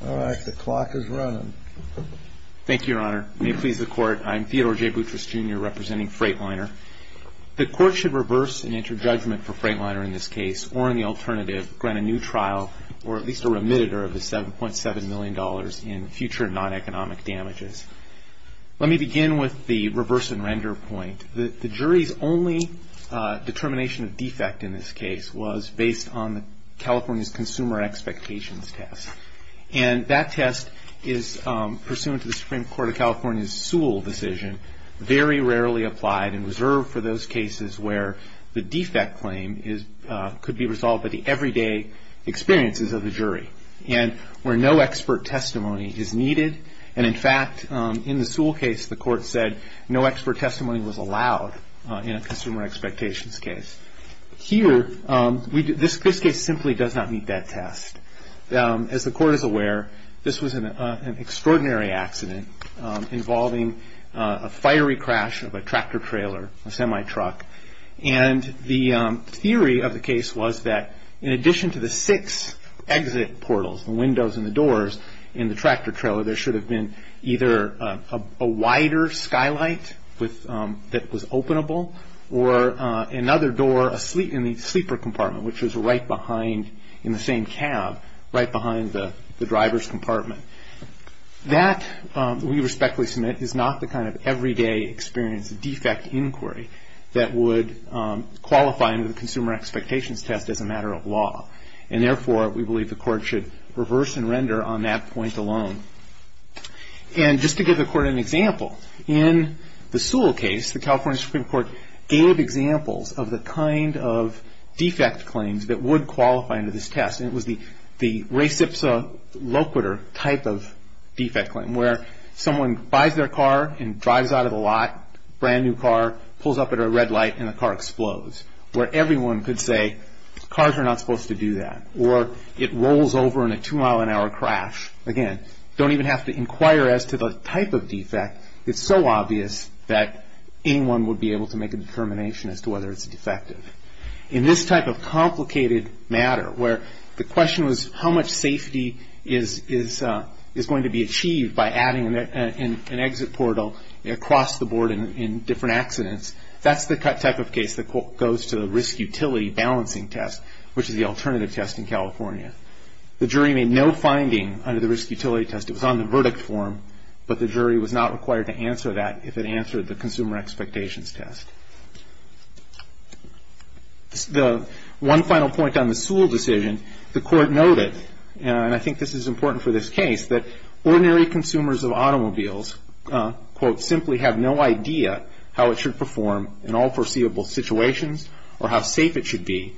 The Court should reverse and enter judgment for Freightliner in this case, or in the alternative, grant a new trial or at least a remit of $7.7 million in future non-economic damages. Let me begin with the reverse and render point. The jury's only determination of defect in this case was based on California's consumer expectations test. And that test is pursuant to the Supreme Court of California's Sewell decision, very rarely applied and reserved for those cases where the defect claim could be resolved by the everyday experiences of the jury. And where no expert testimony is needed. And in fact, in the Sewell case, the Court said no expert testimony was allowed in a consumer expectations case. Here, this case simply does not meet that test. As the Court is aware, this was an extraordinary accident involving a fiery crash of a tractor-trailer, a semi-truck. And the theory of the case was that in addition to the six exit portals, the windows and the doors in the tractor-trailer, there should have been either a wider skylight that was openable, or another door in the sleeper compartment, which was right behind, in the same cab, right behind the driver's compartment. That, we respectfully submit, is not the kind of everyday experience of defect inquiry that would qualify under the consumer expectations test as a matter of law. And therefore, we believe the Court should reverse and render on that point alone. And just to give the Court an example, in the Sewell case, the California Supreme Court gave examples of the kind of defect claims that would qualify under this test. And it was the reciprocal type of defect claim, where someone buys their car and drives out of the lot, brand new car, pulls up at a red light, and the car explodes. Where everyone could say, cars are not supposed to do that. Or it rolls over in a two-mile-an-hour crash. Again, don't even have to inquire as to the type of defect. It's so obvious that anyone would be able to make a determination as to whether it's defective. In this type of complicated matter, where the question was how much safety is going to be achieved by adding an exit portal across the board in different accidents, that's the type of case that goes to the risk utility balancing test, which is the alternative test in California. The jury made no finding under the risk utility test. It was on the verdict form, but the jury was not required to answer that if it answered the consumer expectations test. The one final point on the Sewell decision, the Court noted, and I think this is important for this case, that ordinary consumers of automobiles quote, simply have no idea how it should perform in all foreseeable situations or how safe it should be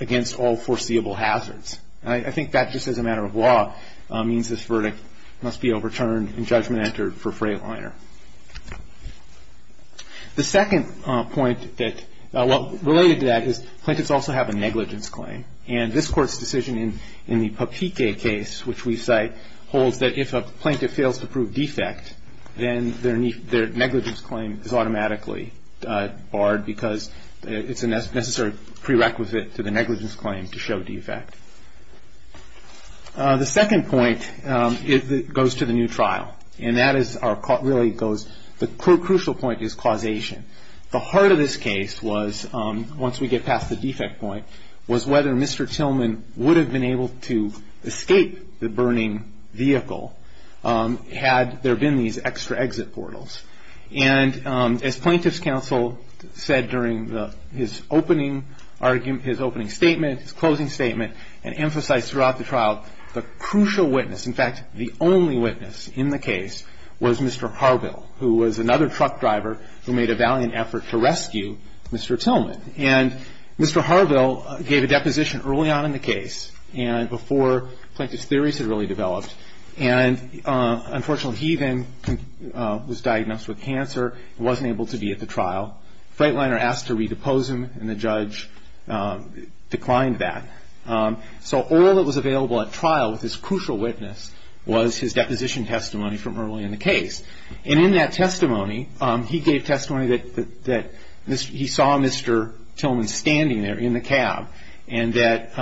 against all foreseeable hazards. I think that just as a matter of law means this verdict must be overturned and judgment entered for Freightliner. The second point related to that is plaintiffs also have a negligence claim. And this Court's decision in the Papike case, which we cite, holds that if a plaintiff fails to prove defect, then their negligence claim is automatically barred because it's a necessary prerequisite to the negligence claim to show defect. The second point goes to the new trial, and that really goes, the crucial point is causation. The heart of this case was, once we get past the defect point, was whether Mr. Tillman would have been able to escape the burning vehicle had there been these extra exit portals. And as Plaintiffs' Counsel said during his opening argument, his opening statement, his closing statement, and emphasized throughout the trial, the crucial witness, in fact, the only witness in the case, was Mr. Harville, who was another truck driver who made a valiant effort to rescue Mr. Tillman. And Mr. Harville gave a deposition early on in the case and before Plaintiffs' theories had really developed. And unfortunately, he then was diagnosed with cancer and wasn't able to be at the trial. Freightliner asked to redepose him, and the judge declined that. So all that was available at trial with this crucial witness was his deposition testimony from early in the case. And in that testimony, he gave testimony that he saw Mr. Tillman standing there in the cab, and that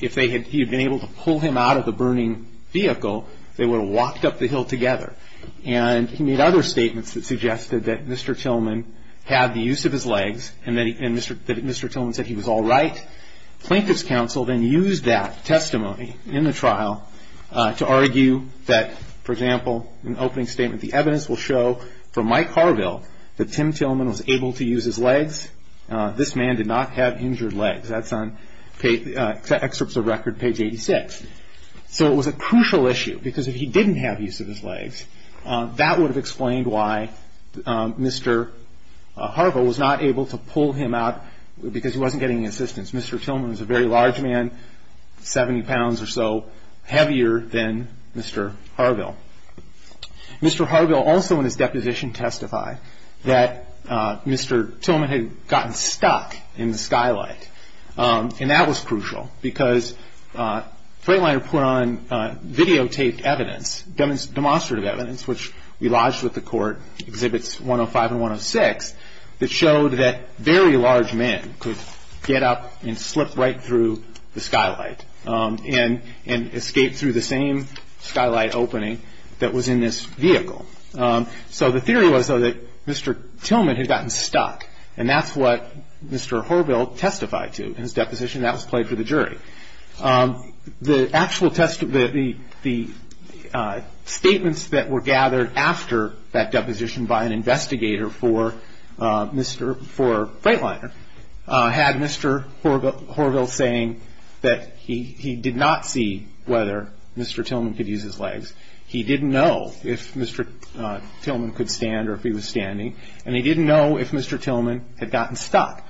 if he had been able to pull him out of the burning vehicle, they would have walked up the hill together. And he made other statements that suggested that Mr. Tillman had the use of his legs and that Mr. Tillman said he was all right. Plaintiffs' counsel then used that testimony in the trial to argue that, for example, in the opening statement, the evidence will show from Mike Harville that Tim Tillman was able to use his legs. This man did not have injured legs. That's on Excerpts of Record, page 86. So it was a crucial issue, because if he didn't have use of his legs, that would have explained why Mr. Harville was not able to pull him out because he wasn't getting any assistance. Mr. Tillman was a very large man, 70 pounds or so heavier than Mr. Harville. Mr. Harville also in his deposition testified that Mr. Tillman had gotten stuck in the skylight, and that was crucial because Freightliner put on videotaped evidence, demonstrative evidence, which we lodged with the court, Exhibits 105 and 106, that showed that very large men could get up and slip right through the skylight and escape through the same skylight opening that was in this vehicle. So the theory was, though, that Mr. Tillman had gotten stuck, and that's what Mr. Harville testified to in his deposition. That was played for the jury. The statements that were gathered after that deposition by an investigator for Freightliner had Mr. Harville saying that he did not see whether Mr. Tillman could use his legs. He didn't know if Mr. Tillman could stand or if he was standing, and he didn't know if Mr. Tillman had gotten stuck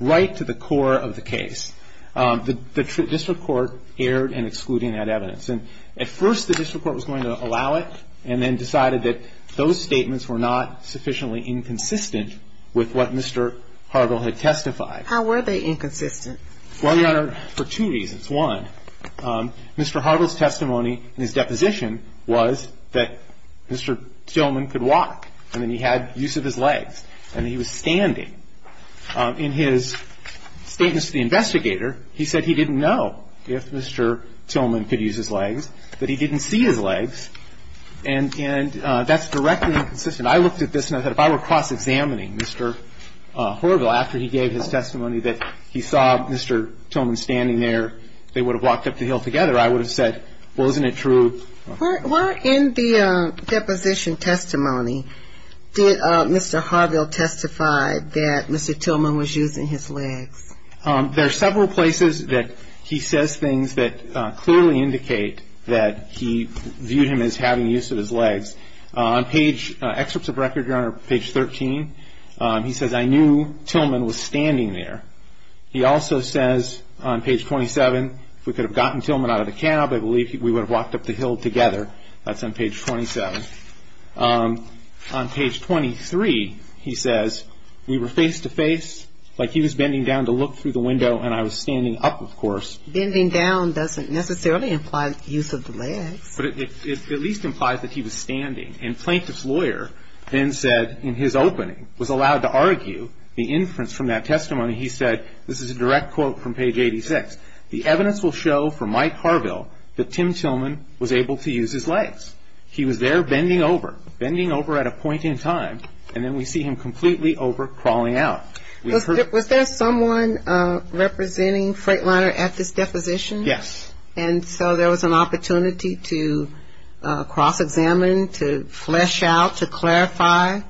right to the core of the case. The district court erred in excluding that evidence, and at first the district court was going to allow it and then decided that those statements were not sufficiently inconsistent with what Mr. Harville had testified. How were they inconsistent? Well, Your Honor, for two reasons. One, Mr. Harville's testimony in his deposition was that Mr. Tillman could walk and that he had use of his legs and that he was standing. In his statement to the investigator, he said he didn't know if Mr. Tillman could use his legs, that he didn't see his legs, and that's directly inconsistent. I looked at this and I thought if I were cross-examining Mr. Harville after he gave his testimony that he saw Mr. Tillman standing there, they would have walked up the hill together. I would have said, well, isn't it true? Where in the deposition testimony did Mr. Harville testify that Mr. Tillman was using his legs? There are several places that he says things that clearly indicate that he viewed him as having use of his legs. On page, excerpts of record, Your Honor, page 13, he says, I knew Tillman was standing there. He also says on page 27, if we could have gotten Tillman out of the cab, I believe we would have walked up the hill together. That's on page 27. On page 23, he says, we were face-to-face, like he was bending down to look through the window, and I was standing up, of course. Bending down doesn't necessarily imply use of the legs. But it at least implies that he was standing. And plaintiff's lawyer then said in his opening, was allowed to argue the inference from that testimony, he said, this is a direct quote from page 86, the evidence will show from Mike Harville that Tim Tillman was able to use his legs. He was there bending over, bending over at a point in time, and then we see him completely over crawling out. Was there someone representing Freightliner at this deposition? Yes. And so there was an opportunity to cross-examine, to flesh out, to clarify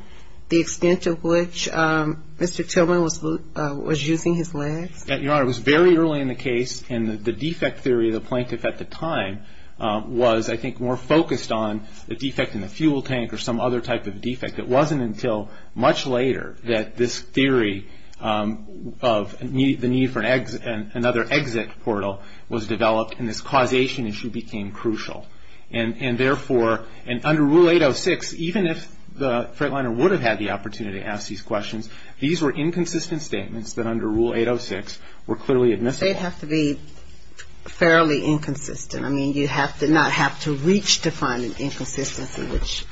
the extent of which Mr. Tillman was using his legs? Your Honor, it was very early in the case, and the defect theory of the plaintiff at the time was, I think, more focused on the defect in the fuel tank or some other type of defect. It wasn't until much later that this theory of the need for another exit portal was developed, and this causation issue became crucial. And therefore, under Rule 806, even if Freightliner would have had the opportunity to ask these questions, these were inconsistent statements that under Rule 806 were clearly admissible. They'd have to be fairly inconsistent. I mean, you did not have to reach to find an inconsistency, which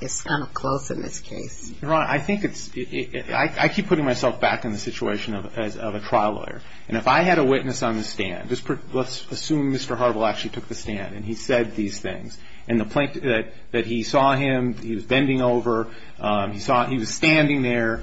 is kind of close in this case. Your Honor, I think it's ‑‑ I keep putting myself back in the situation of a trial lawyer, and if I had a witness on the stand, let's assume Mr. Harville actually took the stand and he said these things, and the plaintiff, that he saw him, he was bending over, he was standing there,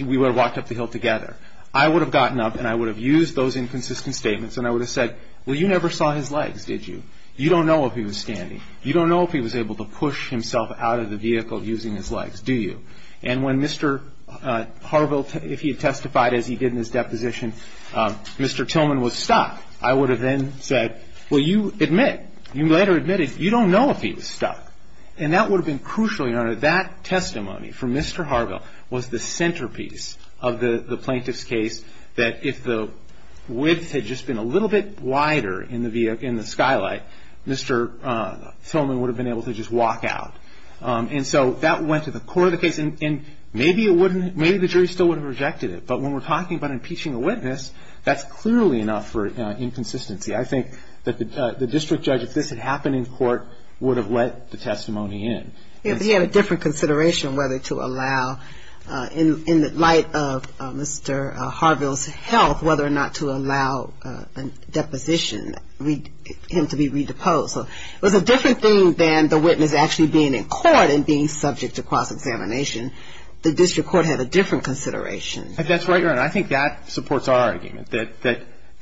we would have walked up the hill together. I would have gotten up and I would have used those inconsistent statements and I would have said, well, you never saw his legs, did you? You don't know if he was standing. You don't know if he was able to push himself out of the vehicle using his legs, do you? And when Mr. Harville, if he had testified as he did in his deposition, Mr. Tillman was stuck, I would have then said, well, you admit, you later admitted you don't know if he was stuck. And that would have been crucial, Your Honor, that testimony from Mr. Harville was the centerpiece of the plaintiff's case that if the width had just been a little bit wider in the skylight, Mr. Tillman would have been able to just walk out. And so that went to the core of the case, and maybe the jury still would have rejected it, but when we're talking about impeaching a witness, that's clearly enough for inconsistency. I think that the district judge, if this had happened in court, would have let the testimony in. He had a different consideration whether to allow, in the light of Mr. Harville's health, whether or not to allow a deposition, him to be re-deposed. So it was a different thing than the witness actually being in court and being subject to cross-examination. The district court had a different consideration. That's right, Your Honor. I think that supports our argument, that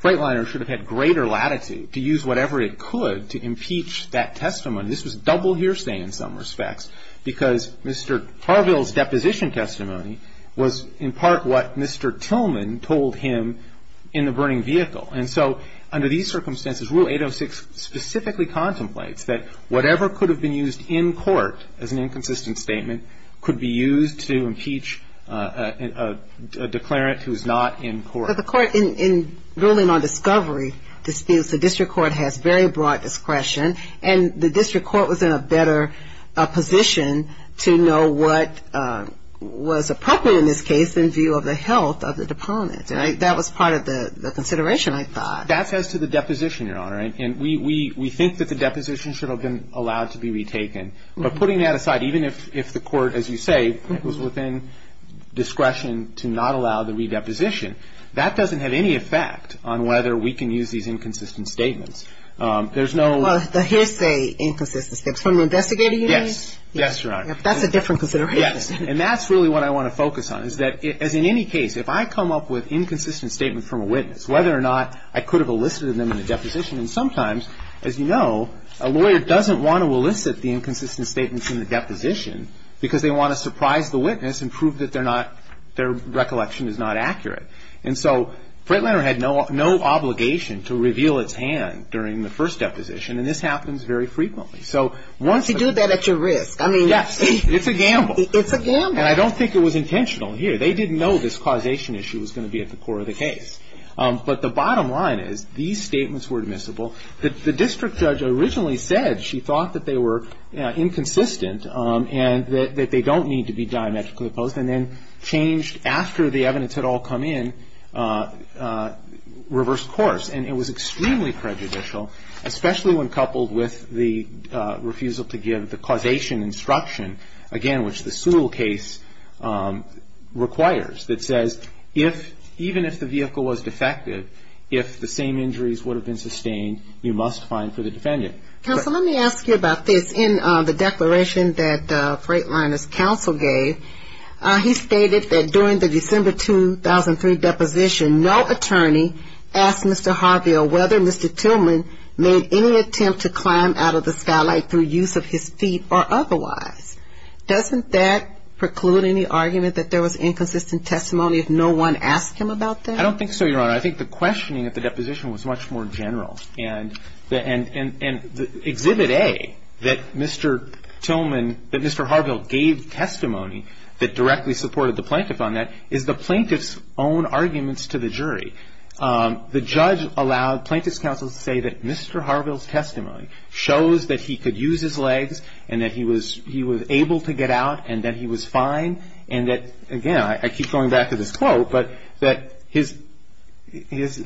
Freightliner should have had greater latitude to use whatever it could to impeach that testimony. This was double hearsay in some respects, because Mr. Harville's deposition testimony was in part what Mr. Tillman told him in the burning vehicle. And so under these circumstances, Rule 806 specifically contemplates that whatever could have been used in court as an inconsistent statement could be used to impeach a declarant who is not in court. But the court in ruling on discovery disputes, the district court has very broad discretion, and the district court was in a better position to know what was appropriate in this case in view of the health of the deponent. That was part of the consideration, I thought. That's as to the deposition, Your Honor. And we think that the deposition should have been allowed to be retaken. But putting that aside, even if the court, as you say, was within discretion to not allow the redeposition, that doesn't have any effect on whether we can use these inconsistent statements. There's no – Well, the hearsay inconsistent statements. From an investigator, you mean? Yes. Yes, Your Honor. That's a different consideration. Yes. And that's really what I want to focus on, is that as in any case, if I come up with inconsistent statements from a witness, whether or not I could have elicited them in the deposition, and sometimes, as you know, a lawyer doesn't want to elicit the inconsistent statements in the deposition, because they want to surprise the witness and prove that they're not – their recollection is not accurate. And so Freightliner had no obligation to reveal its hand during the first deposition, and this happens very frequently. So once the – To do that at your risk, I mean – Yes. It's a gamble. It's a gamble. And I don't think it was intentional here. They didn't know this causation issue was going to be at the core of the case. But the bottom line is, these statements were admissible. The district judge originally said she thought that they were inconsistent and that they don't need to be diametrically opposed, and then changed, after the evidence had all come in, reverse course. And it was extremely prejudicial, especially when coupled with the refusal to give the causation instruction, again, which the Sewell case requires, that says if – even if the vehicle was defective, if the same injuries would have been sustained, you must find for the defendant. Counsel, let me ask you about this. In the declaration that Freightliner's counsel gave, he stated that during the December 2003 deposition, no attorney asked Mr. Harvey or whether Mr. Tillman made any attempt to climb out of the skylight through use of his feet or otherwise. Doesn't that preclude any argument that there was inconsistent testimony if no one asked him about that? I don't think so, Your Honor. I think the questioning at the deposition was much more general. And Exhibit A, that Mr. Tillman – that Mr. Harville gave testimony that directly supported the plaintiff on that, is the plaintiff's own arguments to the jury. The judge allowed plaintiff's counsel to say that Mr. Harville's testimony shows that he could use his legs and that he was able to get out and that he was fine and that, again, I keep going back to this quote, but that his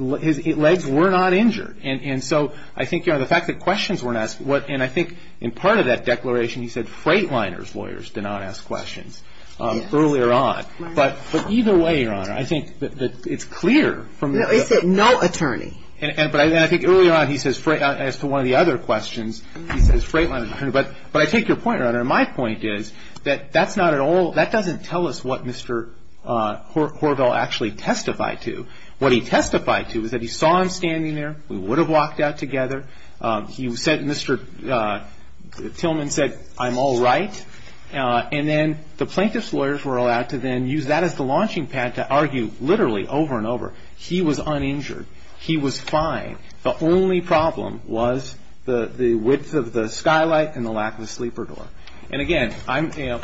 legs were not injured. And so I think, Your Honor, the fact that questions weren't asked – and I think in part of that declaration he said Freightliner's lawyers did not ask questions earlier on. But either way, Your Honor, I think that it's clear from the – No, he said no attorney. And I think earlier on he says – as to one of the other questions, he says Freightliner's attorney. But I take your point, Your Honor, and my point is that that's not at all – that doesn't tell us what Mr. Harville actually testified to. What he testified to is that he saw him standing there. We would have walked out together. He said – Mr. Tillman said, I'm all right. And then the plaintiff's lawyers were allowed to then use that as the launching pad to argue literally over and over. He was uninjured. He was fine. The only problem was the width of the skylight and the lack of a sleeper door. And, again,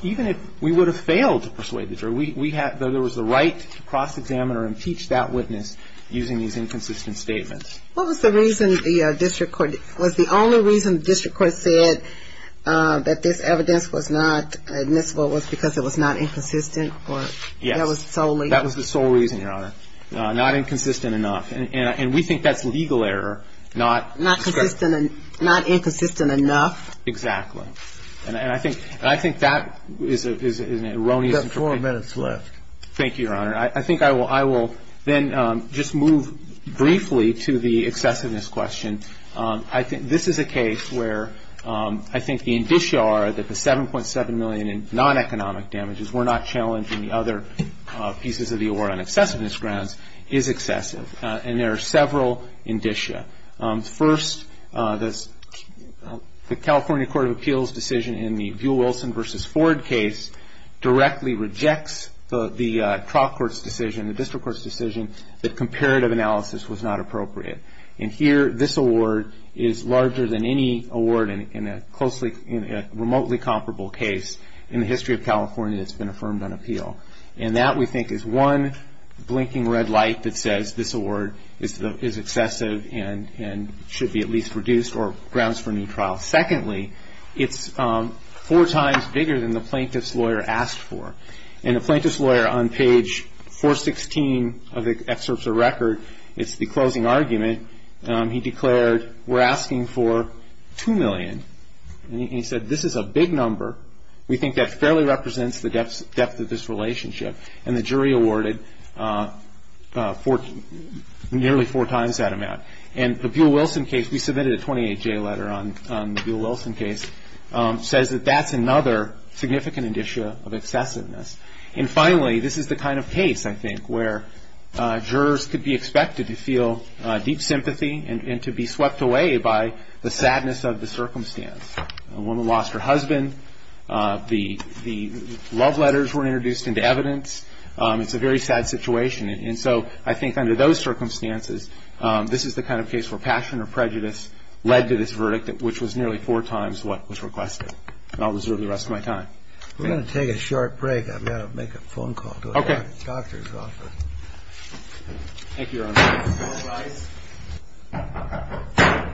even if we would have failed to persuade the jury, there was the right to cross-examine or impeach that witness using these inconsistent statements. What was the reason the district court – was the only reason the district court said that this evidence was not admissible was because it was not inconsistent or that was solely – Yes, that was the sole reason, Your Honor, not inconsistent enough. And we think that's legal error, not – Not consistent – not inconsistent enough. Exactly. And I think – and I think that is an erroneous interpretation. You've got four minutes left. Thank you, Your Honor. I think I will – I will then just move briefly to the excessiveness question. I think – this is a case where I think the indicia are that the 7.7 million in non-economic damages were not challenged in the other pieces of the award on excessiveness grounds is excessive. And there are several indicia. First, the California Court of Appeals decision in the Buell-Wilson v. Ford case directly rejects the trial court's decision, the district court's decision, that comparative analysis was not appropriate. And here, this award is larger than any award in a closely – in a remotely comparable case in the history of California that's been affirmed on appeal. And that, we think, is one blinking red light that says this award is excessive and should be at least reduced or grounds for a new trial. Secondly, it's four times bigger than the plaintiff's lawyer asked for. And the plaintiff's lawyer, on page 416 of the excerpts of record, it's the closing argument. He declared, we're asking for 2 million. And he said, this is a big number. We think that fairly represents the depth of this relationship. And the jury awarded nearly four times that amount. And the Buell-Wilson case, we submitted a 28-J letter on the Buell-Wilson case, says that that's another significant indicia of excessiveness. And finally, this is the kind of case, I think, where jurors could be expected to feel deep sympathy and to be swept away by the sadness of the circumstance. A woman lost her husband. The love letters were introduced into evidence. It's a very sad situation. And so I think under those circumstances, this is the kind of case where passion or prejudice led to this verdict, which was nearly four times what was requested. And I'll reserve the rest of my time. We're going to take a short break. I've got to make a phone call to a doctor's office. Okay. Thank you, Your Honor. All rise. All rise.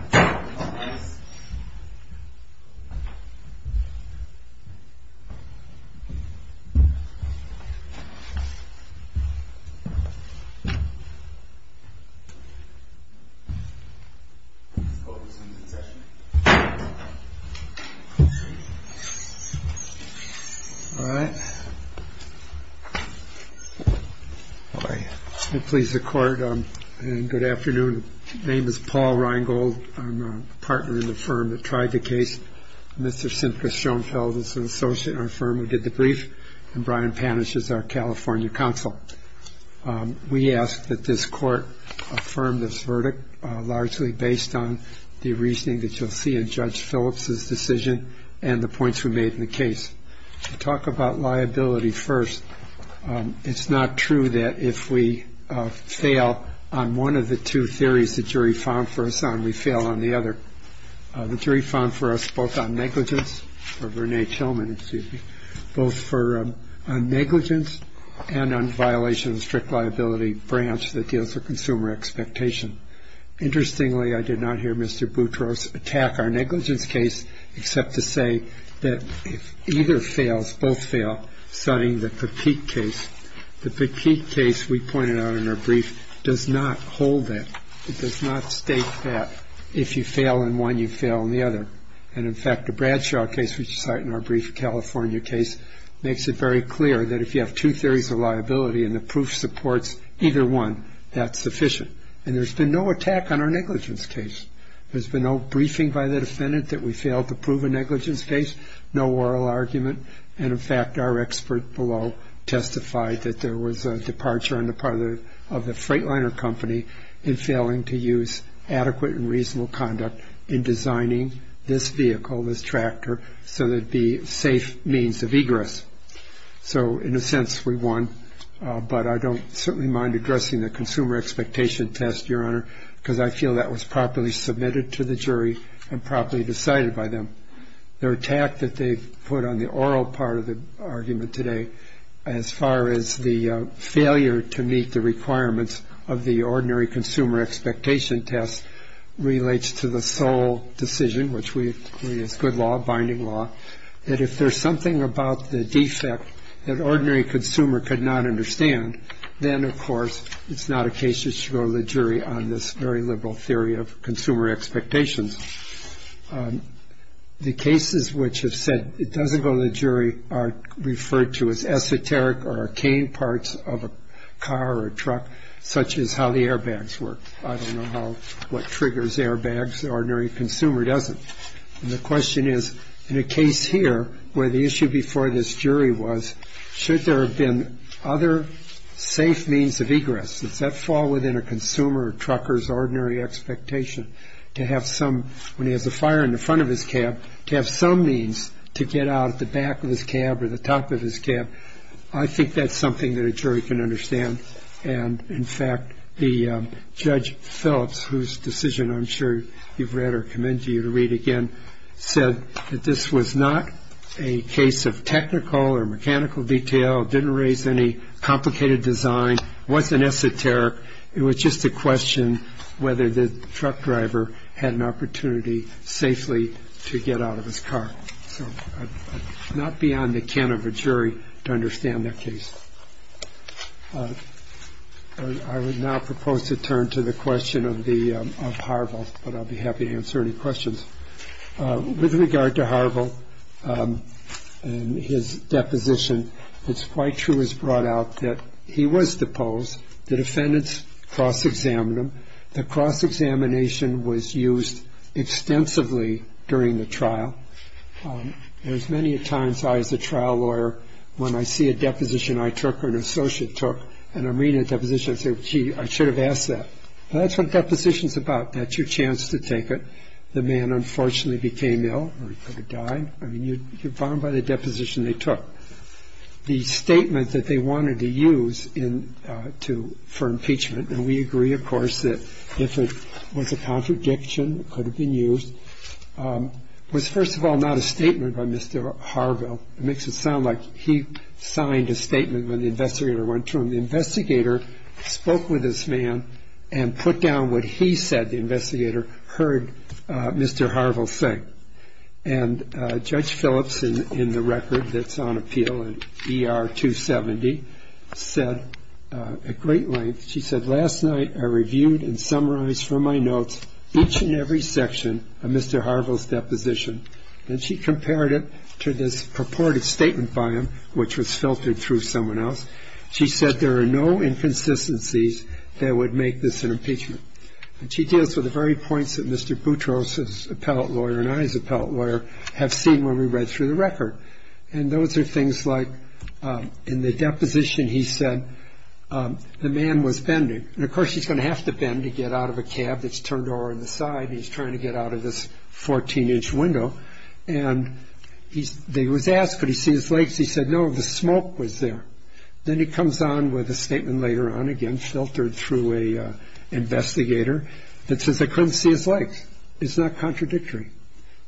All right. All right. Please, the Court, and good afternoon. My name is Paul Reingold. I'm a partner in the firm that tried the case. Mr. Simka Schonfeld is an associate in our firm who did the brief, and Brian Panish is our California counsel. We ask that this Court affirm this verdict, largely based on the reasoning that you'll see in Judge Phillips's decision and the points we made in the case. To talk about liability first, it's not true that if we fail on one of the two theories the jury found for us on, we fail on the other. The jury found for us both on negligence, or Vernet Chilman, excuse me, both on negligence and on violation of the strict liability branch that deals with consumer expectation. Interestingly, I did not hear Mr. Boutros attack our negligence case, except to say that if either fails, both fail, citing the Petit case. The Petit case we pointed out in our brief does not hold that. It does not state that if you fail in one, you fail in the other. And, in fact, the Bradshaw case, which you cite in our brief, a California case, makes it very clear that if you have two theories of liability and the proof supports either one, that's sufficient. And there's been no attack on our negligence case. There's been no briefing by the defendant that we failed to prove a negligence case. No oral argument. And, in fact, our expert below testified that there was a departure on the part of the freightliner company in failing to use adequate and reasonable conduct in designing this vehicle, this tractor, so that it would be a safe means of egress. So, in a sense, we won. But I don't certainly mind addressing the consumer expectation test, Your Honor, because I feel that was properly submitted to the jury and properly decided by them. Their attack that they put on the oral part of the argument today, as far as the failure to meet the requirements of the ordinary consumer expectation test, relates to the sole decision, which we agree is good law, binding law, that if there's something about the defect that ordinary consumer could not understand, then, of course, it's not a case that should go to the jury on this very liberal theory of consumer expectations. The cases which have said it doesn't go to the jury are referred to as esoteric or arcane parts of a car or a truck, such as how the airbags work. I don't know what triggers airbags. The ordinary consumer doesn't. And the question is, in a case here where the issue before this jury was, should there have been other safe means of egress? Does that fall within a consumer or trucker's ordinary expectation to have some, when he has a fire in the front of his cab, to have some means to get out at the back of his cab or the top of his cab? I think that's something that a jury can understand. And, in fact, the Judge Phillips, whose decision I'm sure you've read or commend you to read again, said that this was not a case of technical or mechanical detail, didn't raise any complicated design, wasn't esoteric. It was just a question whether the truck driver had an opportunity safely to get out of his car. So not beyond the can of a jury to understand that case. I would now propose to turn to the question of Harville, but I'll be happy to answer any questions. With regard to Harville and his deposition, it's quite true as brought out that he was deposed. The defendants cross-examined him. The cross-examination was used extensively during the trial. There's many a times I, as a trial lawyer, when I see a deposition I took or an associate took, and I'm reading a deposition, I say, gee, I should have asked that. Well, that's what a deposition's about. That's your chance to take it. The man unfortunately became ill or he could have died. I mean, you're bound by the deposition they took. The statement that they wanted to use for impeachment, and we agree, of course, that if it was a contradiction, it could have been used, was, first of all, not a statement by Mr. Harville. It makes it sound like he signed a statement when the investigator went to him. The investigator spoke with this man and put down what he said the investigator heard Mr. Harville say. And Judge Phillips, in the record that's on appeal in ER 270, said at great length, she said, each and every section of Mr. Harville's deposition, and she compared it to this purported statement by him, which was filtered through someone else. She said there are no inconsistencies that would make this an impeachment. And she deals with the very points that Mr. Boutros, his appellate lawyer, and I, his appellate lawyer, have seen when we read through the record. And those are things like in the deposition he said the man was bending. And, of course, he's going to have to bend to get out of a cab that's turned over on the side, and he's trying to get out of this 14-inch window. And they was asked, could he see his legs? He said, no, the smoke was there. Then he comes on with a statement later on, again, filtered through an investigator, that says they couldn't see his legs. It's not contradictory.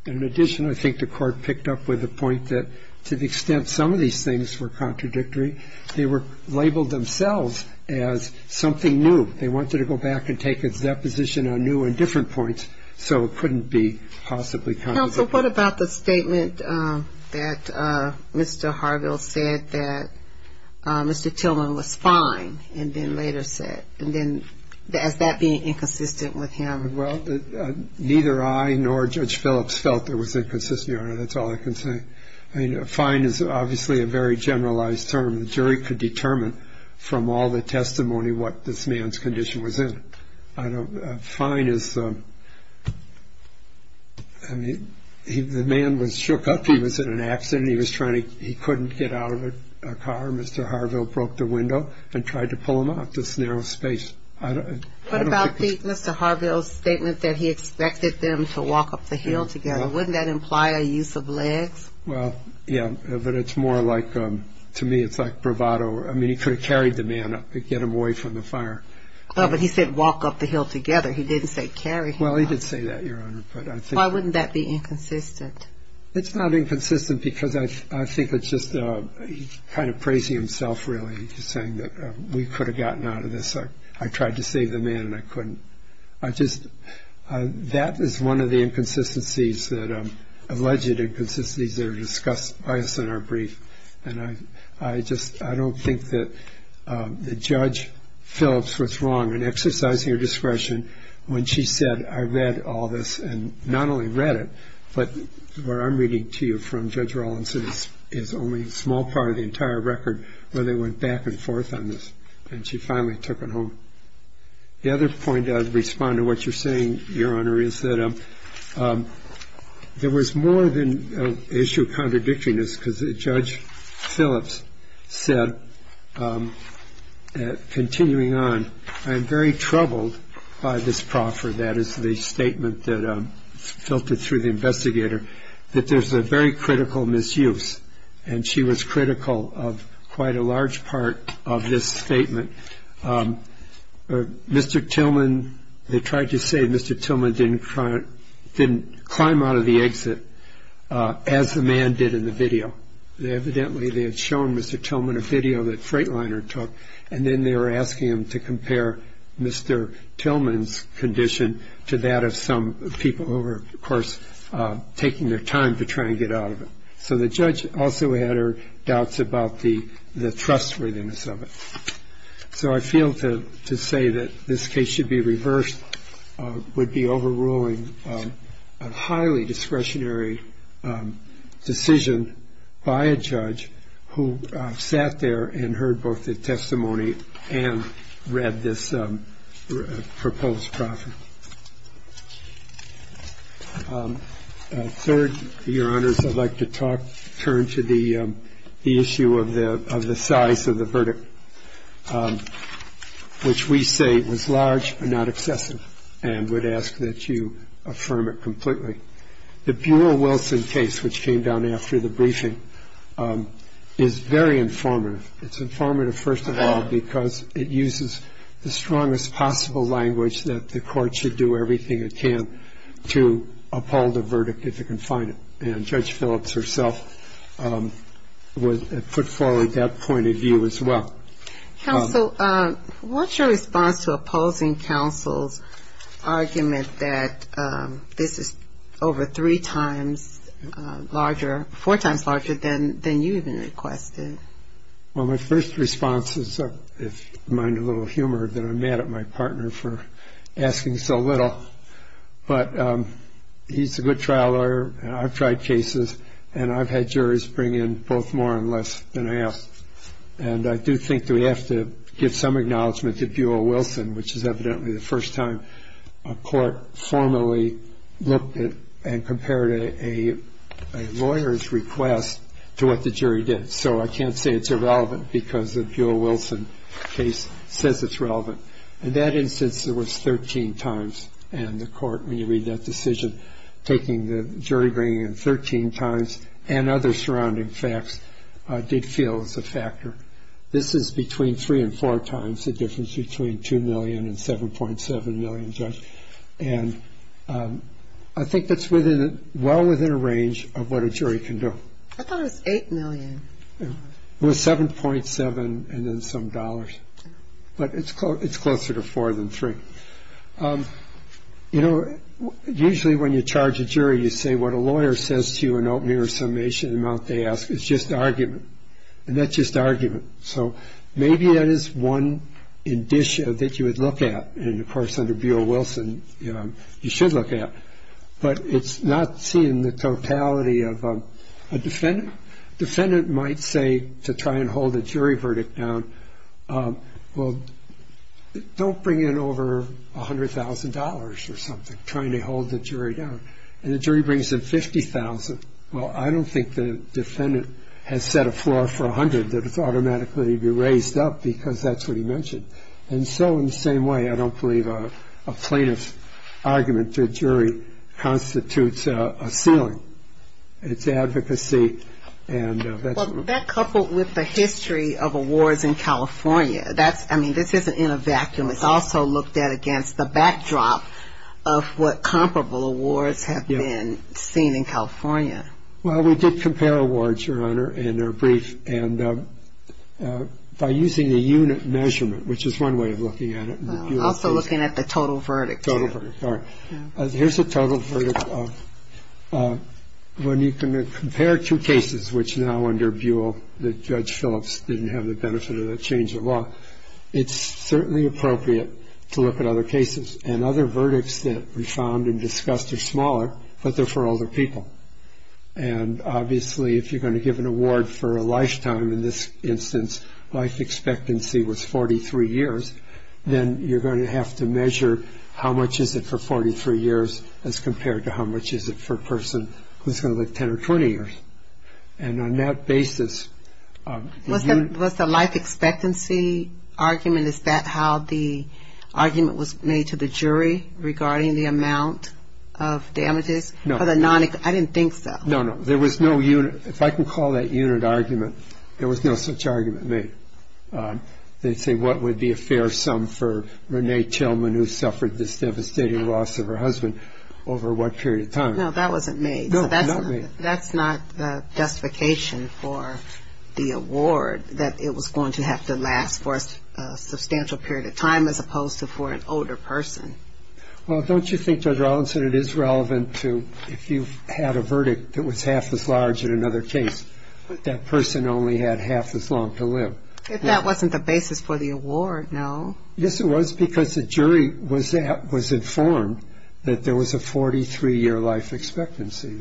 In addition, I think the court picked up with the point that to the extent some of these things were contradictory, they were labeled themselves as something new. They wanted to go back and take a deposition on new and different points, so it couldn't be possibly contradictory. Counsel, what about the statement that Mr. Harville said that Mr. Tillman was fine and then later said? And then is that being inconsistent with him? Well, neither I nor Judge Phillips felt it was inconsistent, Your Honor. That's all I can say. I mean, fine is obviously a very generalized term. The jury could determine from all the testimony what this man's condition was in. A fine is the man was shook up. He was in an accident. He couldn't get out of a car. Mr. Harville broke the window and tried to pull him out of this narrow space. What about Mr. Harville's statement that he expected them to walk up the hill together? Wouldn't that imply a use of legs? Well, yeah, but it's more like, to me, it's like bravado. I mean, he could have carried the man up to get him away from the fire. But he said walk up the hill together. He didn't say carry him. Well, he did say that, Your Honor. Why wouldn't that be inconsistent? It's not inconsistent because I think it's just kind of praising himself, really, just saying that we could have gotten out of this. I tried to save the man and I couldn't. That is one of the alleged inconsistencies that are discussed by us in our brief, and I don't think that Judge Phillips was wrong in exercising her discretion when she said I read all this, and not only read it, but what I'm reading to you from Judge Rawlinson is only a small part of the entire record where they went back and forth on this, and she finally took it home. The other point I'd respond to what you're saying, Your Honor, is that there was more than an issue of contradictoriness because Judge Phillips said, continuing on, I'm very troubled by this proffer, that is the statement that's filtered through the investigator, that there's a very critical misuse, and she was critical of quite a large part of this statement. Mr. Tillman, they tried to say Mr. Tillman didn't climb out of the exit as the man did in the video. Evidently, they had shown Mr. Tillman a video that Freightliner took, and then they were asking him to compare Mr. Tillman's condition to that of some people who were, of course, taking their time to try and get out of it. So the judge also had her doubts about the trustworthiness of it. So I feel to say that this case should be reversed would be overruling a highly discretionary decision by a judge who sat there and heard both the testimony and read this proposed proffer. Thank you. Third, Your Honors, I'd like to turn to the issue of the size of the verdict, which we say was large but not excessive, and would ask that you affirm it completely. The Buell-Wilson case, which came down after the briefing, is very informative. It's informative, first of all, because it uses the strongest possible language that the court should do everything it can to uphold a verdict if it can find it. And Judge Phillips herself put forward that point of view as well. Counsel, what's your response to opposing counsel's argument that this is over three times larger, four times larger than you even requested? Well, my first response is, if you mind a little humor, that I'm mad at my partner for asking so little. But he's a good trial lawyer, and I've tried cases, and I've had juries bring in both more and less than I asked. And I do think that we have to give some acknowledgment to Buell-Wilson, which is evidently the first time a court formally looked at and compared a lawyer's request to what the jury did. So I can't say it's irrelevant because the Buell-Wilson case says it's relevant. In that instance, it was 13 times, and the court, when you read that decision, taking the jury bringing in 13 times and other surrounding facts did feel it was a factor. This is between three and four times the difference between $2 million and $7.7 million, Judge. And I think that's well within a range of what a jury can do. I thought it was $8 million. It was $7.7 and then some dollars. But it's closer to four than three. You know, usually when you charge a jury, you say what a lawyer says to you in open air summation, the amount they ask, it's just argument. And that's just argument. So maybe that is one indicia that you would look at, and, of course, under Buell-Wilson you should look at. But it's not seeing the totality of a defendant. A defendant might say to try and hold a jury verdict down, well, don't bring in over $100,000 or something, trying to hold the jury down. And the jury brings in $50,000. Well, I don't think the defendant has set a floor for $100,000 that it's automatically raised up because that's what he mentioned. And so in the same way, I don't believe a plaintiff's argument to a jury constitutes a ceiling. It's advocacy. Well, that coupled with the history of awards in California, that's, I mean, this isn't in a vacuum. It's also looked at against the backdrop of what comparable awards have been seen in California. Well, we did compare awards, Your Honor, and they're brief. And by using the unit measurement, which is one way of looking at it. Also looking at the total verdict. Total verdict, all right. Here's the total verdict. When you compare two cases, which now under Buell, that Judge Phillips didn't have the benefit of that change of law, it's certainly appropriate to look at other cases. And other verdicts that we found and discussed are smaller, but they're for older people. And obviously, if you're going to give an award for a lifetime, in this instance, life expectancy was 43 years, then you're going to have to measure how much is it for 43 years as compared to how much is it for a person who's going to live 10 or 20 years. And on that basis... Was the life expectancy argument, is that how the argument was made to the jury regarding the amount of damages? No. I didn't think so. No, no. There was no unit. If I can call that unit argument, there was no such argument made. They'd say, what would be a fair sum for Renee Tillman, who suffered this devastating loss of her husband, over what period of time? No, that wasn't made. No, not made. That's not justification for the award, that it was going to have to last for a substantial period of time as opposed to for an older person. Well, don't you think, Judge Rollins, that it is relevant to if you had a verdict that was half as large in another case, that that person only had half as long to live? If that wasn't the basis for the award, no. Yes, it was, because the jury was informed that there was a 43-year life expectancy.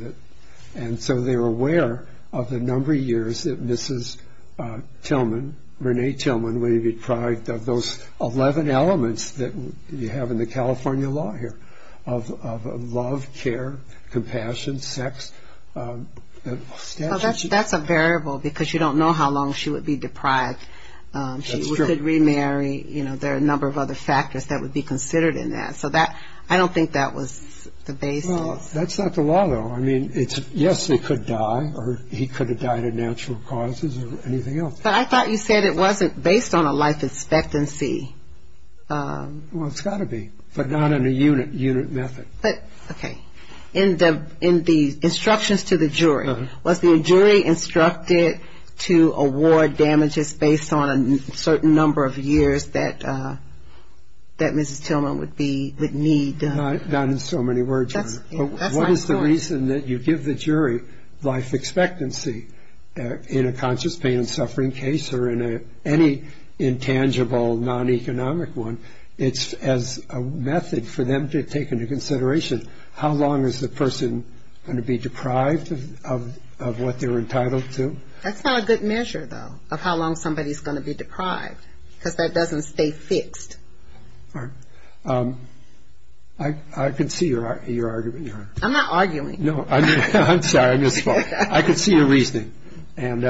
And so they were aware of the number of years that Mrs. Tillman, Renee Tillman, would be deprived of those 11 elements that you have in the California law here of love, care, compassion, sex. That's a variable, because you don't know how long she would be deprived. That's true. She could remarry. You know, there are a number of other factors that would be considered in that. So I don't think that was the basis. Well, that's not the law, though. I mean, yes, they could die, or he could have died of natural causes or anything else. But I thought you said it wasn't based on a life expectancy. Well, it's got to be, but not in a unit method. Okay. In the instructions to the jury, was the jury instructed to award damages based on a certain number of years that Mrs. Tillman would need? Not in so many words. What is the reason that you give the jury life expectancy in a conscious pain and suffering case or in any intangible non-economic one? It's as a method for them to take into consideration how long is the person going to be deprived of what they're entitled to? That's not a good measure, though, of how long somebody's going to be deprived, because that doesn't stay fixed. All right. I can see your argument. I'm not arguing. No, I'm sorry. I misspoke. I can see your reasoning. And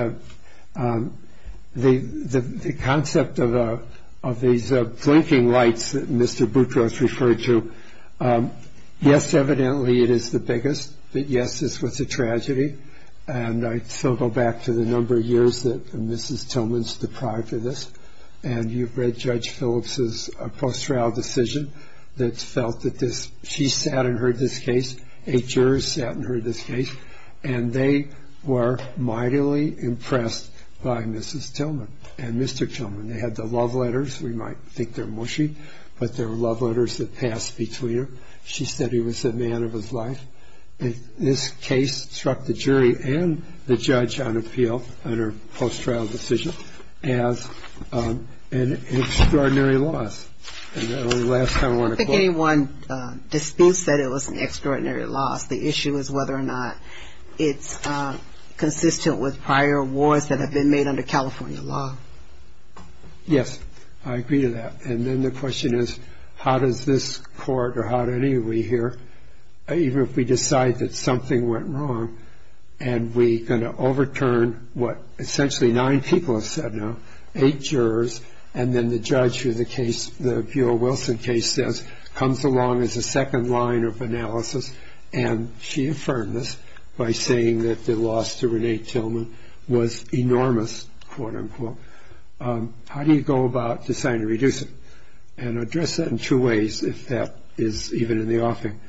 the concept of these blinking lights that Mr. Boutros referred to, yes, evidently it is the biggest, but, yes, this was a tragedy. And I still go back to the number of years that Mrs. Tillman's deprived of this. And you've read Judge Phillips's post-trial decision that felt that she sat in her discase, a juror sat in her discase, and they were mightily impressed by Mrs. Tillman and Mr. Tillman. They had the love letters. We might think they're mushy, but they were love letters that passed between them. She said he was the man of his life. This case struck the jury and the judge on appeal on her post-trial decision as an extraordinary loss. I think anyone disputes that it was an extraordinary loss. The issue is whether or not it's consistent with prior awards that have been made under California law. Yes, I agree to that. And then the question is, how does this court or how do any of you here, even if we decide that something went wrong, and we're going to overturn what essentially nine people have said now, eight jurors, and then the judge who the Buell-Wilson case says comes along as a second line of analysis, and she affirmed this by saying that the loss to Renee Tillman was enormous, quote, unquote. How do you go about deciding to reduce it? And address that in two ways, if that is even in the offering.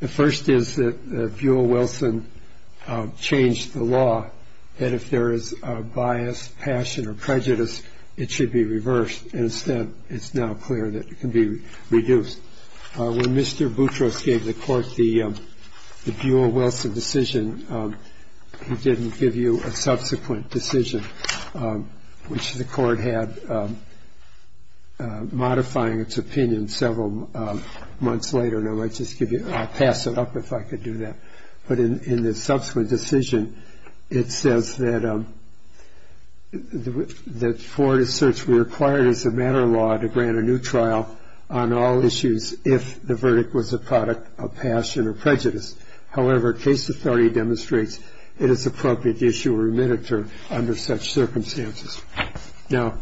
The first is that Buell-Wilson changed the law, that if there is a bias, passion, or prejudice, it should be reversed. Instead, it's now clear that it can be reduced. When Mr. Boutros gave the court the Buell-Wilson decision, he didn't give you a subsequent decision, which the court had modifying its opinion several months later. And I might just give you ñ I'll pass it up if I could do that. But in the subsequent decision, it says that the court asserts we required as a matter of law to grant a new trial on all issues if the verdict was a product of passion or prejudice. However, case authority demonstrates it is appropriate to issue a remitter under such circumstances. Now,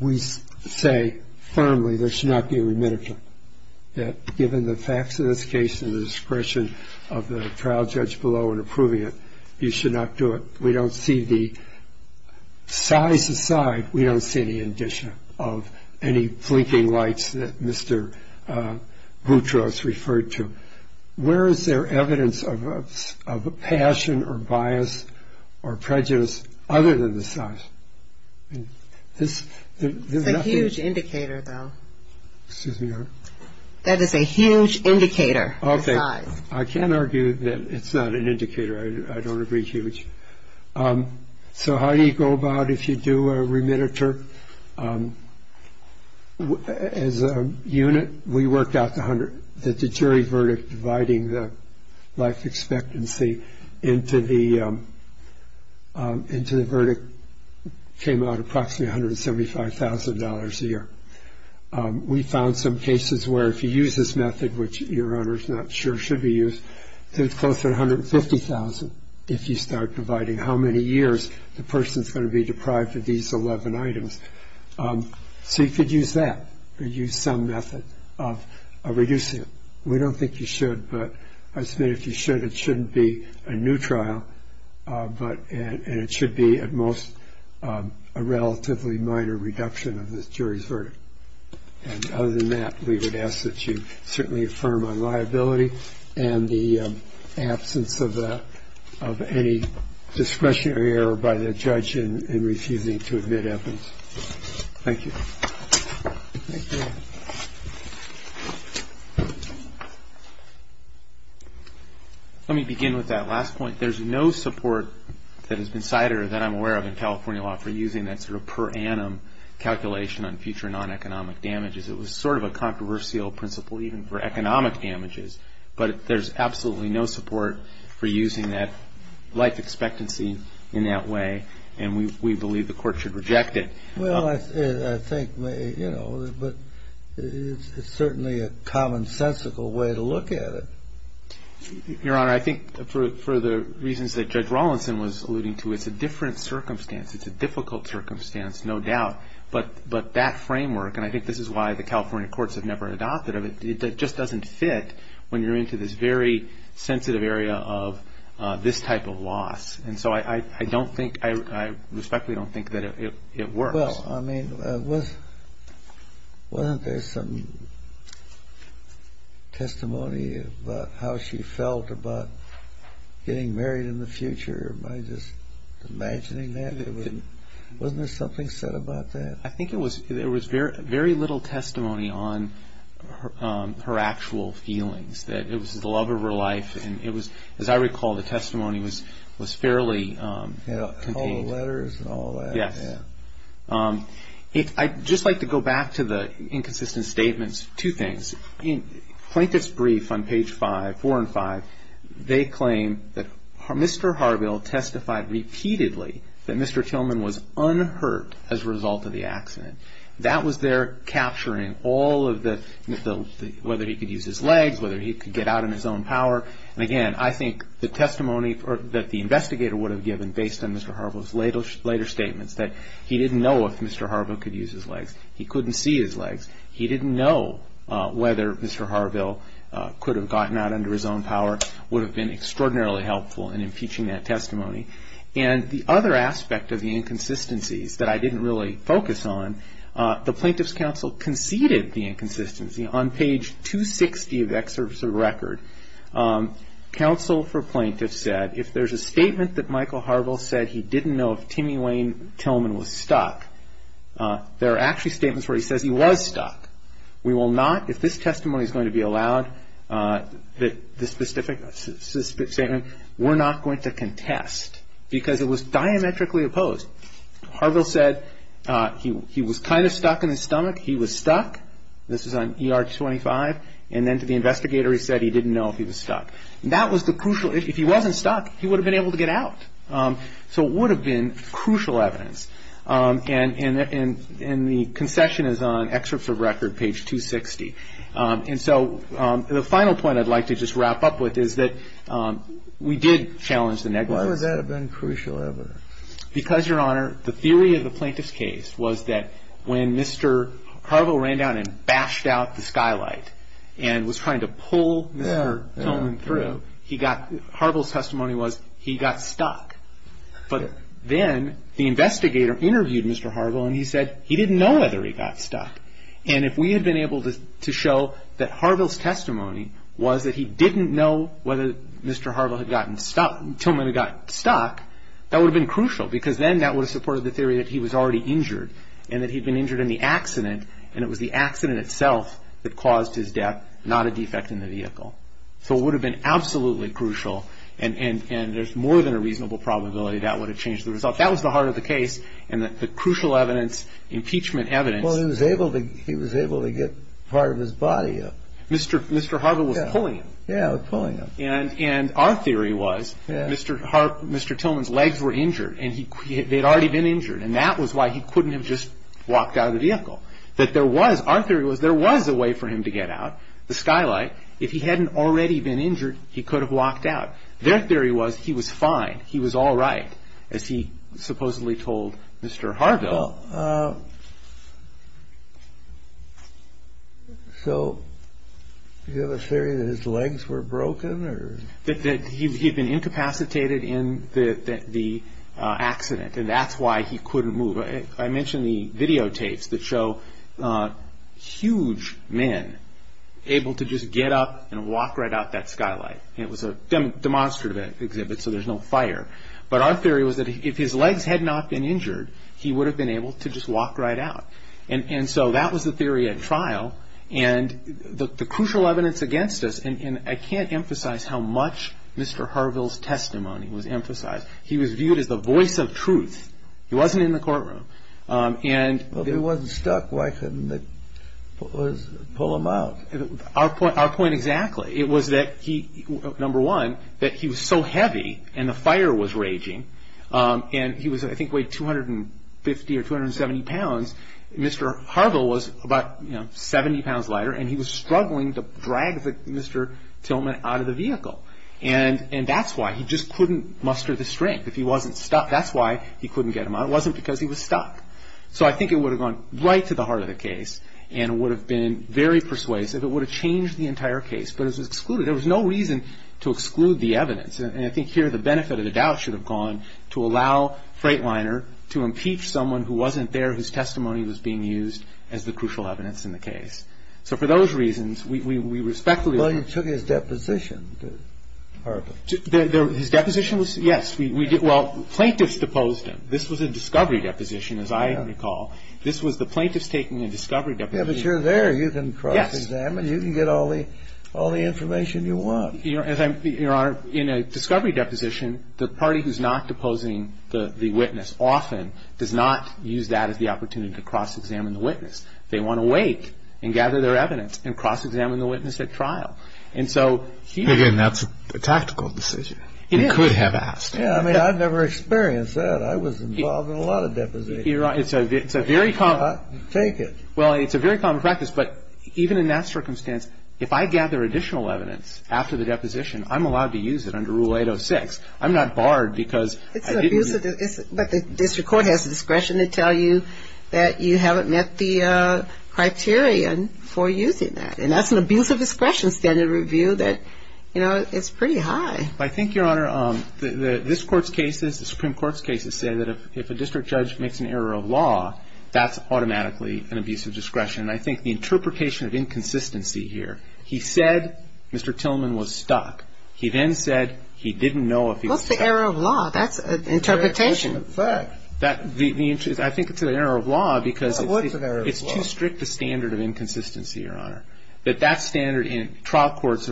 we say firmly there should not be a remitter, that given the facts of this case and the discretion of the trial judge below in approving it, you should not do it. We don't see the size aside, we don't see any addition of any blinking lights that Mr. Boutros referred to. Where is there evidence of a passion or bias or prejudice other than the size? It's a huge indicator, though. Excuse me, Your Honor. That is a huge indicator, the size. Okay. I can't argue that it's not an indicator. I don't agree huge. So how do you go about if you do a remitter? As a unit, we worked out that the jury verdict, dividing the life expectancy into the verdict came out approximately $175,000 a year. We found some cases where if you use this method, which Your Honor is not sure should be used, it's close to $150,000 if you start dividing how many years the person is going to be deprived of these 11 items. So you could use that or use some method of reducing it. We don't think you should, but I submit if you should, it shouldn't be a new trial, and it should be at most a relatively minor reduction of the jury's verdict. And other than that, we would ask that you certainly affirm on liability and the absence of any discretionary error by the judge in refusing to admit evidence. Thank you. Thank you. Let me begin with that last point. There's no support that has been cited or that I'm aware of in California law for using that sort of per annum calculation on future non-economic damages. It was sort of a controversial principle even for economic damages. But there's absolutely no support for using that life expectancy in that way, and we believe the Court should reject it. Well, I think, you know, but it's certainly a commonsensical way to look at it. Your Honor, I think for the reasons that Judge Rawlinson was alluding to, it's a different circumstance. It's a difficult circumstance, no doubt. But that framework, and I think this is why the California courts have never adopted it, just doesn't fit when you're into this very sensitive area of this type of loss. And so I don't think, I respectfully don't think that it works. Well, I mean, wasn't there some testimony about how she felt about getting married in the future by just imagining that? Wasn't there something said about that? I think there was very little testimony on her actual feelings, that it was the love of her life. And it was, as I recall, the testimony was fairly contained. Yeah, all the letters and all that. Yes. I'd just like to go back to the inconsistent statements. Two things. In Plaintiff's Brief on page 5, 4 and 5, they claim that Mr. Harville testified repeatedly that Mr. Tillman was unhurt as a result of the accident. That was there capturing all of the, whether he could use his legs, whether he could get out in his own power. And again, I think the testimony that the investigator would have given based on Mr. Harville's later statements, that he didn't know if Mr. Harville could use his legs. He couldn't see his legs. He didn't know whether Mr. Harville could have gotten out under his own power, would have been extraordinarily helpful in impeaching that testimony. And the other aspect of the inconsistencies that I didn't really focus on, the Plaintiff's Counsel conceded the inconsistency. On page 260 of the Excerpt of the Record, Counsel for Plaintiff said, if there's a statement that Michael Harville said he didn't know if Timmy Wayne Tillman was stuck, there are actually statements where he says he was stuck. We will not, if this testimony is going to be allowed, this specific statement, we're not going to contest because it was diametrically opposed. Harville said he was kind of stuck in his stomach. He was stuck. This is on ER 25. And then to the investigator he said he didn't know if he was stuck. That was the crucial, if he wasn't stuck, he would have been able to get out. So it would have been crucial evidence. And the concession is on Excerpt of Record, page 260. And so the final point I'd like to just wrap up with is that we did challenge the negligence. Why would that have been crucial ever? Because, Your Honor, the theory of the plaintiff's case was that when Mr. Harville ran down and bashed out the skylight and was trying to pull Mr. Tillman through, Harville's testimony was he got stuck. But then the investigator interviewed Mr. Harville and he said he didn't know whether he got stuck. And if we had been able to show that Harville's testimony was that he didn't know whether Mr. Harville had gotten stuck, Tillman had gotten stuck, that would have been crucial because then that would have supported the theory that he was already injured and that he'd been injured in the accident and it was the accident itself that caused his death, not a defect in the vehicle. So it would have been absolutely crucial and there's more than a reasonable probability that would have changed the result. That was the heart of the case and the crucial evidence, impeachment evidence. Well, he was able to get part of his body up. Mr. Harville was pulling him. Yeah, pulling him. And our theory was Mr. Tillman's legs were injured and they'd already been injured and that was why he couldn't have just walked out of the vehicle. Our theory was there was a way for him to get out, the skylight. If he hadn't already been injured, he could have walked out. Their theory was he was fine, he was all right, as he supposedly told Mr. Harville. So you have a theory that his legs were broken? That he'd been incapacitated in the accident and that's why he couldn't move. I mentioned the videotapes that show huge men able to just get up and walk right out that skylight. It was a demonstrative exhibit so there's no fire. But our theory was that if his legs had not been injured, he would have been able to just walk right out. And so that was the theory at trial and the crucial evidence against us, and I can't emphasize how much Mr. Harville's testimony was emphasized. He was viewed as the voice of truth. He wasn't in the courtroom. If he wasn't stuck, why couldn't they pull him out? Our point exactly. It was that, number one, that he was so heavy and the fire was raging, and he was, I think, weighed 250 or 270 pounds. Mr. Harville was about 70 pounds lighter and he was struggling to drag Mr. Tillman out of the vehicle. And that's why, he just couldn't muster the strength. If he wasn't stuck, that's why he couldn't get him out. It wasn't because he was stuck. So I think it would have gone right to the heart of the case and would have been very persuasive. It would have changed the entire case, but it was excluded. There was no reason to exclude the evidence. And I think here the benefit of the doubt should have gone to allow Freightliner to impeach someone who wasn't there, whose testimony was being used as the crucial evidence in the case. So for those reasons, we respectfully... Well, you took his deposition. His deposition was, yes. Well, plaintiffs deposed him. This was a discovery deposition, as I recall. This was the plaintiffs taking a discovery deposition. Yeah, but you're there. You can cross-examine. You can get all the information you want. Your Honor, in a discovery deposition, the party who's not deposing the witness often does not use that as the opportunity to cross-examine the witness. They want to wait and gather their evidence and cross-examine the witness at trial. And so here... Again, that's a tactical decision. You could have asked. Yeah, I mean, I've never experienced that. I was involved in a lot of depositions. You're right. It's a very common... Take it. Well, it's a very common practice, but even in that circumstance, if I gather additional evidence after the deposition, I'm allowed to use it under Rule 806. I'm not barred because I didn't... But the district court has the discretion to tell you that you haven't met the criterion for using that. And that's an abuse of discretion standard review that, you know, it's pretty high. I think, Your Honor, this Court's cases, the Supreme Court's cases, say that if a district judge makes an error of law, that's automatically an abuse of discretion. And I think the interpretation of inconsistency here, he said Mr. Tillman was stuck. He then said he didn't know if he was stuck. What's the error of law? That's an interpretation. I think it's an error of law because it's too strict a standard of inconsistency, Your Honor. That that standard in trial courts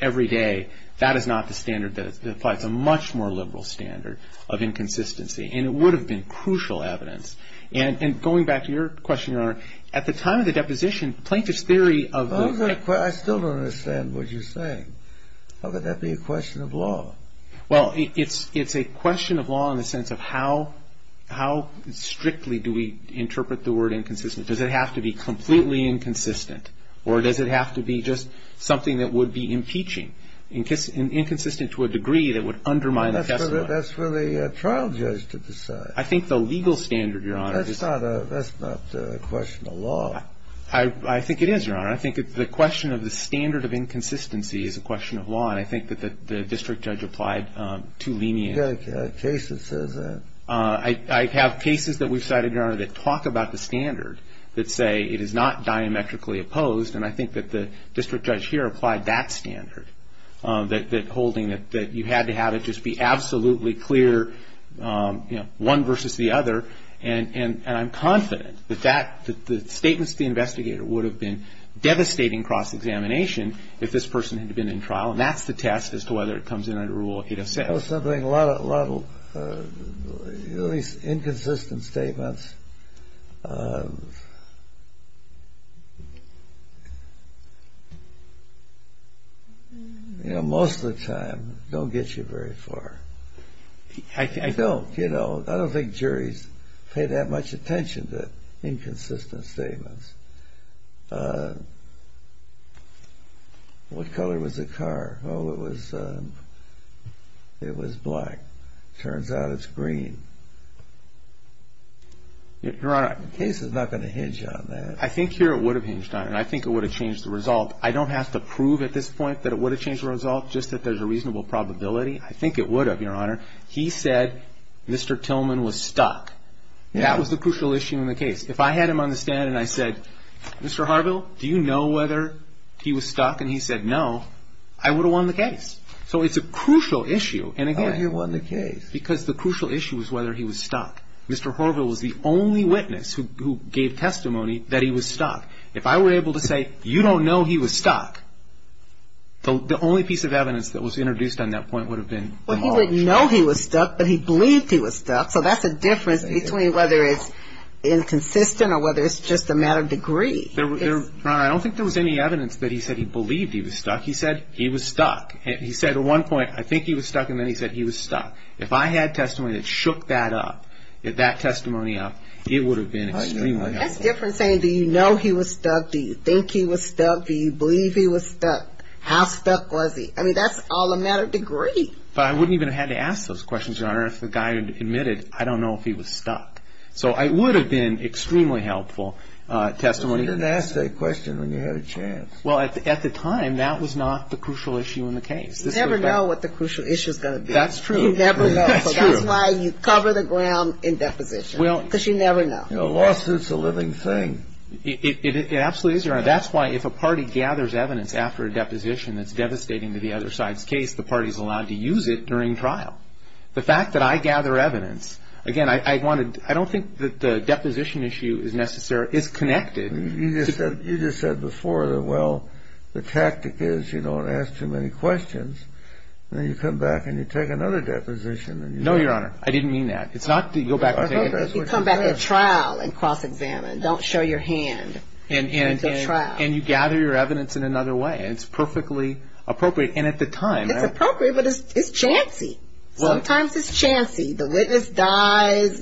every day, that is not the standard that applies a much more liberal standard of inconsistency. And it would have been crucial evidence. And going back to your question, Your Honor, at the time of the deposition, Plaintiff's theory of... I still don't understand what you're saying. How could that be a question of law? Well, it's a question of law in the sense of how strictly do we interpret the word inconsistent? Does it have to be completely inconsistent? Or does it have to be just something that would be impeaching? Inconsistent to a degree that would undermine the testimony. That's for the trial judge to decide. I think the legal standard, Your Honor, is... That's not a question of law. I think it is, Your Honor. I think the question of the standard of inconsistency is a question of law. And I think that the district judge applied too lenient. A case that says that. I have cases that we've cited, Your Honor, that talk about the standard that say it is not diametrically opposed. And I think that the district judge here applied that standard. That holding that you had to have it just be absolutely clear, you know, one versus the other. And I'm confident that the statements of the investigator would have been devastating cross-examination if this person had been in trial. And that's the test as to whether it comes in under Rule 8 of 6. You know something, a lot of these inconsistent statements, you know, most of the time don't get you very far. I don't, you know. I don't think juries pay that much attention to inconsistent statements. What color was the car? Oh, it was black. Turns out it's green. Your Honor. The case is not going to hinge on that. I think here it would have hinged on it. And I think it would have changed the result. I don't have to prove at this point that it would have changed the result, just that there's a reasonable probability. I think it would have, Your Honor. That was the crucial issue in the case. If I had him on the stand and I said, Mr. Harville, do you know whether he was stuck? And he said no, I would have won the case. So it's a crucial issue. And again, because the crucial issue is whether he was stuck. Mr. Harville was the only witness who gave testimony that he was stuck. If I were able to say, you don't know he was stuck, the only piece of evidence that was introduced on that point would have been involved. Well, he would know he was stuck, but he believed he was stuck. So that's the difference between whether it's inconsistent or whether it's just a matter of degree. Your Honor, I don't think there was any evidence that he said he believed he was stuck. He said he was stuck. He said at one point, I think he was stuck, and then he said he was stuck. If I had testimony that shook that up, that testimony up, it would have been extremely helpful. That's different saying, do you know he was stuck? Do you think he was stuck? Do you believe he was stuck? How stuck was he? I mean, that's all a matter of degree. But I wouldn't even have had to ask those questions, Your Honor, if the guy admitted, I don't know if he was stuck. So it would have been extremely helpful testimony. You didn't ask that question when you had a chance. Well, at the time, that was not the crucial issue in the case. You never know what the crucial issue is going to be. That's true. You never know. That's true. So that's why you cover the ground in deposition, because you never know. A lawsuit is a living thing. It absolutely is, Your Honor. That's why if a party gathers evidence after a deposition that's devastating to the other side's case, the party is allowed to use it during trial. The fact that I gather evidence, again, I don't think that the deposition issue is connected. You just said before that, well, the tactic is you don't ask too many questions. Then you come back and you take another deposition. No, Your Honor. I didn't mean that. It's not that you go back and take it. If you come back at trial and cross-examine, don't show your hand. At the trial. And you gather your evidence in another way. It's perfectly appropriate. And at the time. It's appropriate, but it's chancy. Sometimes it's chancy. The witness dies.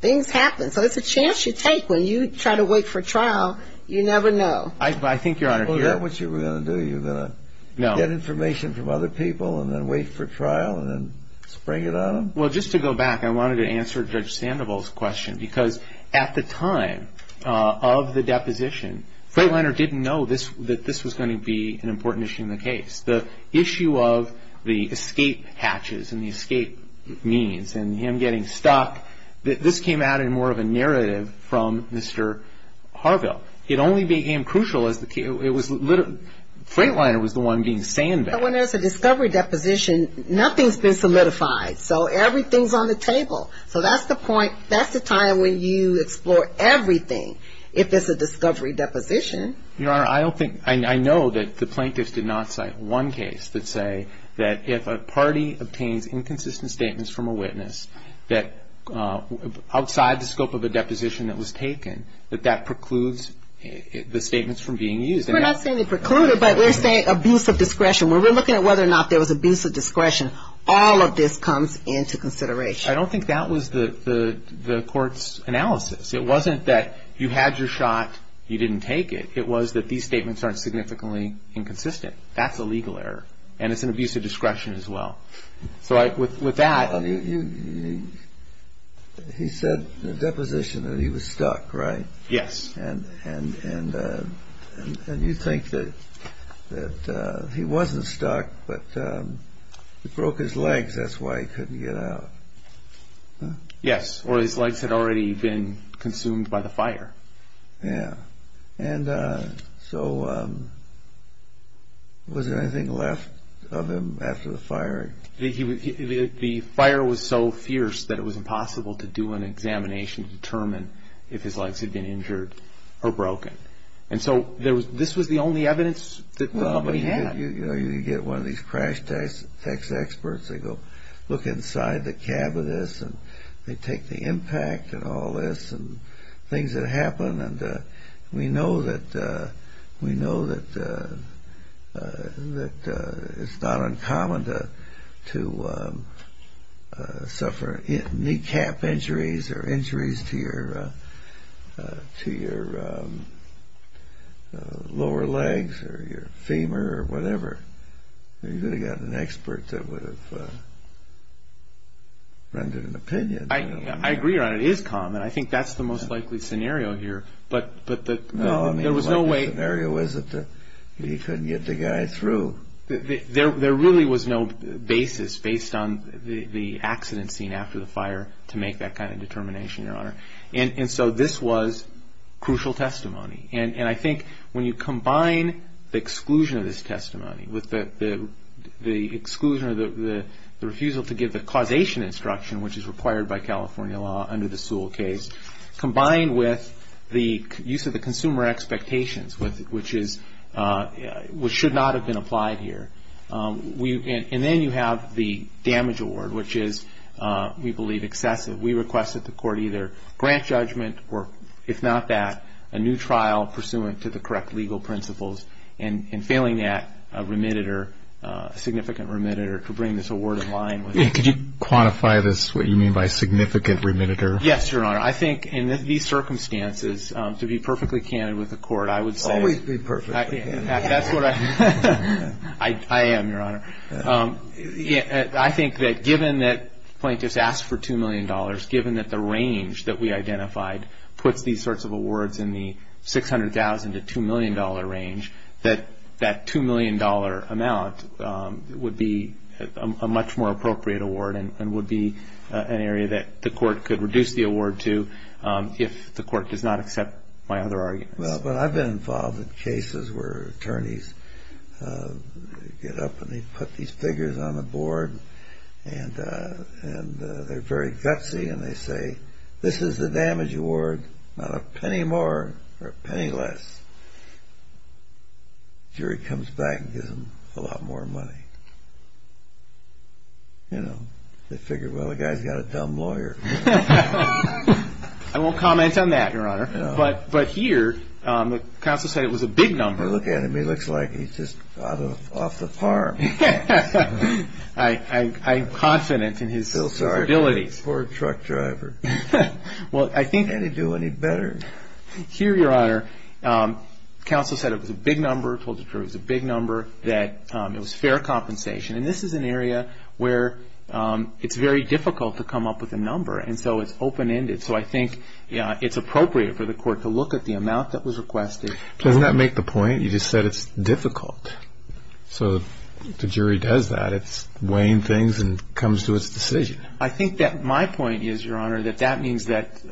Things happen. So it's a chance you take when you try to wait for trial. You never know. I think, Your Honor. Well, is that what you were going to do? You were going to get information from other people and then wait for trial and then spring it on them? Well, just to go back, I wanted to answer Judge Sandoval's question. Because at the time of the deposition, Freightliner didn't know that this was going to be an important issue in the case. The issue of the escape hatches and the escape means and him getting stuck, this came out in more of a narrative from Mr. Harville. It only became crucial as the case – Freightliner was the one being sandbagged. Well, when there's a discovery deposition, nothing's been solidified. So everything's on the table. So that's the point. That's the time when you explore everything. If it's a discovery deposition. Your Honor, I don't think – I know that the plaintiffs did not cite one case that say that if a party obtains inconsistent statements from a witness that outside the scope of a deposition that was taken, that that precludes the statements from being used. We're not saying they preclude it, but we're saying abuse of discretion. We're looking at whether or not there was abuse of discretion. All of this comes into consideration. I don't think that was the court's analysis. It wasn't that you had your shot, you didn't take it. It was that these statements aren't significantly inconsistent. That's a legal error, and it's an abuse of discretion as well. So with that – He said in the deposition that he was stuck, right? Yes. And you think that he wasn't stuck, but he broke his legs. That's why he couldn't get out. Yes, or his legs had already been consumed by the fire. Yeah. And so was there anything left of him after the fire? The fire was so fierce that it was impossible to do an examination to determine if his legs had been injured or broken. And so this was the only evidence that the company had. You know, you get one of these crash text experts. They go look inside the cab of this, and they take the impact of all this and things that happen. And we know that it's not uncommon to suffer kneecap injuries or injuries to your lower legs or your femur or whatever. You could have gotten an expert that would have rendered an opinion. I agree, Your Honor. It is common. I think that's the most likely scenario here. But there was no way – No, I mean, the likely scenario is that he couldn't get the guy through. There really was no basis based on the accident seen after the fire to make that kind of determination, Your Honor. And so this was crucial testimony. And I think when you combine the exclusion of this testimony with the exclusion or the refusal to give the causation instruction, which is required by California law under the Sewell case, combined with the use of the consumer expectations, which should not have been applied here, and then you have the damage award, which is, we believe, excessive. We request that the court either grant judgment or, if not that, a new trial pursuant to the correct legal principles and failing that, a remediator, a significant remediator, to bring this award in line with it. Could you quantify this, what you mean by significant remediator? Yes, Your Honor. I think in these circumstances, to be perfectly candid with the court, I would say – Always be perfectly. That's what I – I am, Your Honor. I think that given that plaintiffs asked for $2 million, given that the range that we identified puts these sorts of awards in the $600,000 to $2 million range, that that $2 million amount would be a much more appropriate award and would be an area that the court could reduce the award to if the court does not accept my other arguments. Well, I've been involved in cases where attorneys get up and they put these figures on the board and they're very gutsy and they say, this is the damage award, not a penny more or a penny less. Jury comes back and gives them a lot more money. You know, they figure, well, the guy's got a dumb lawyer. I won't comment on that, Your Honor. But here, the counsel said it was a big number. Well, look at him. He looks like he's just off the farm. I'm confident in his capabilities. Poor truck driver. Can't he do any better? Here, Your Honor, counsel said it was a big number, told the jury it was a big number, that it was fair compensation. And this is an area where it's very difficult to come up with a number, and so it's open-ended. So I think it's appropriate for the court to look at the amount that was requested. Doesn't that make the point? You just said it's difficult. So the jury does that. It's weighing things and comes to its decision. I think that my point is, Your Honor, that that means that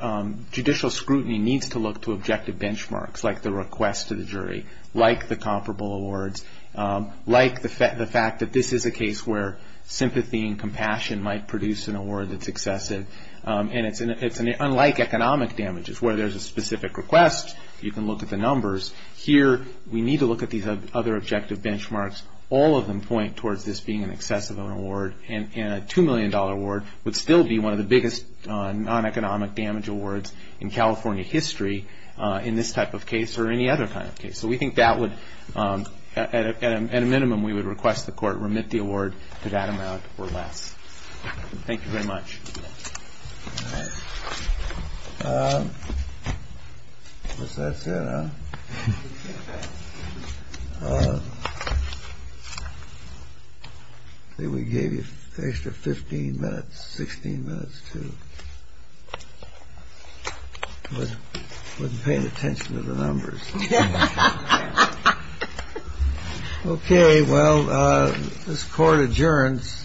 judicial scrutiny needs to look to objective benchmarks, like the request to the jury, like the comparable awards, like the fact that this is a case where sympathy and compassion might produce an award that's excessive. And it's unlike economic damages, where there's a specific request, you can look at the numbers. Here, we need to look at these other objective benchmarks. All of them point towards this being an excessive award, and a $2 million award would still be one of the biggest non-economic damage awards in California history in this type of case or any other kind of case. So we think that would, at a minimum, we would request the court remit the award to that amount or less. Thank you very much. All right. I guess that's it, huh? I think we gave you an extra 15 minutes, 16 minutes, too. I wasn't paying attention to the numbers. Okay. Well, this court adjourns.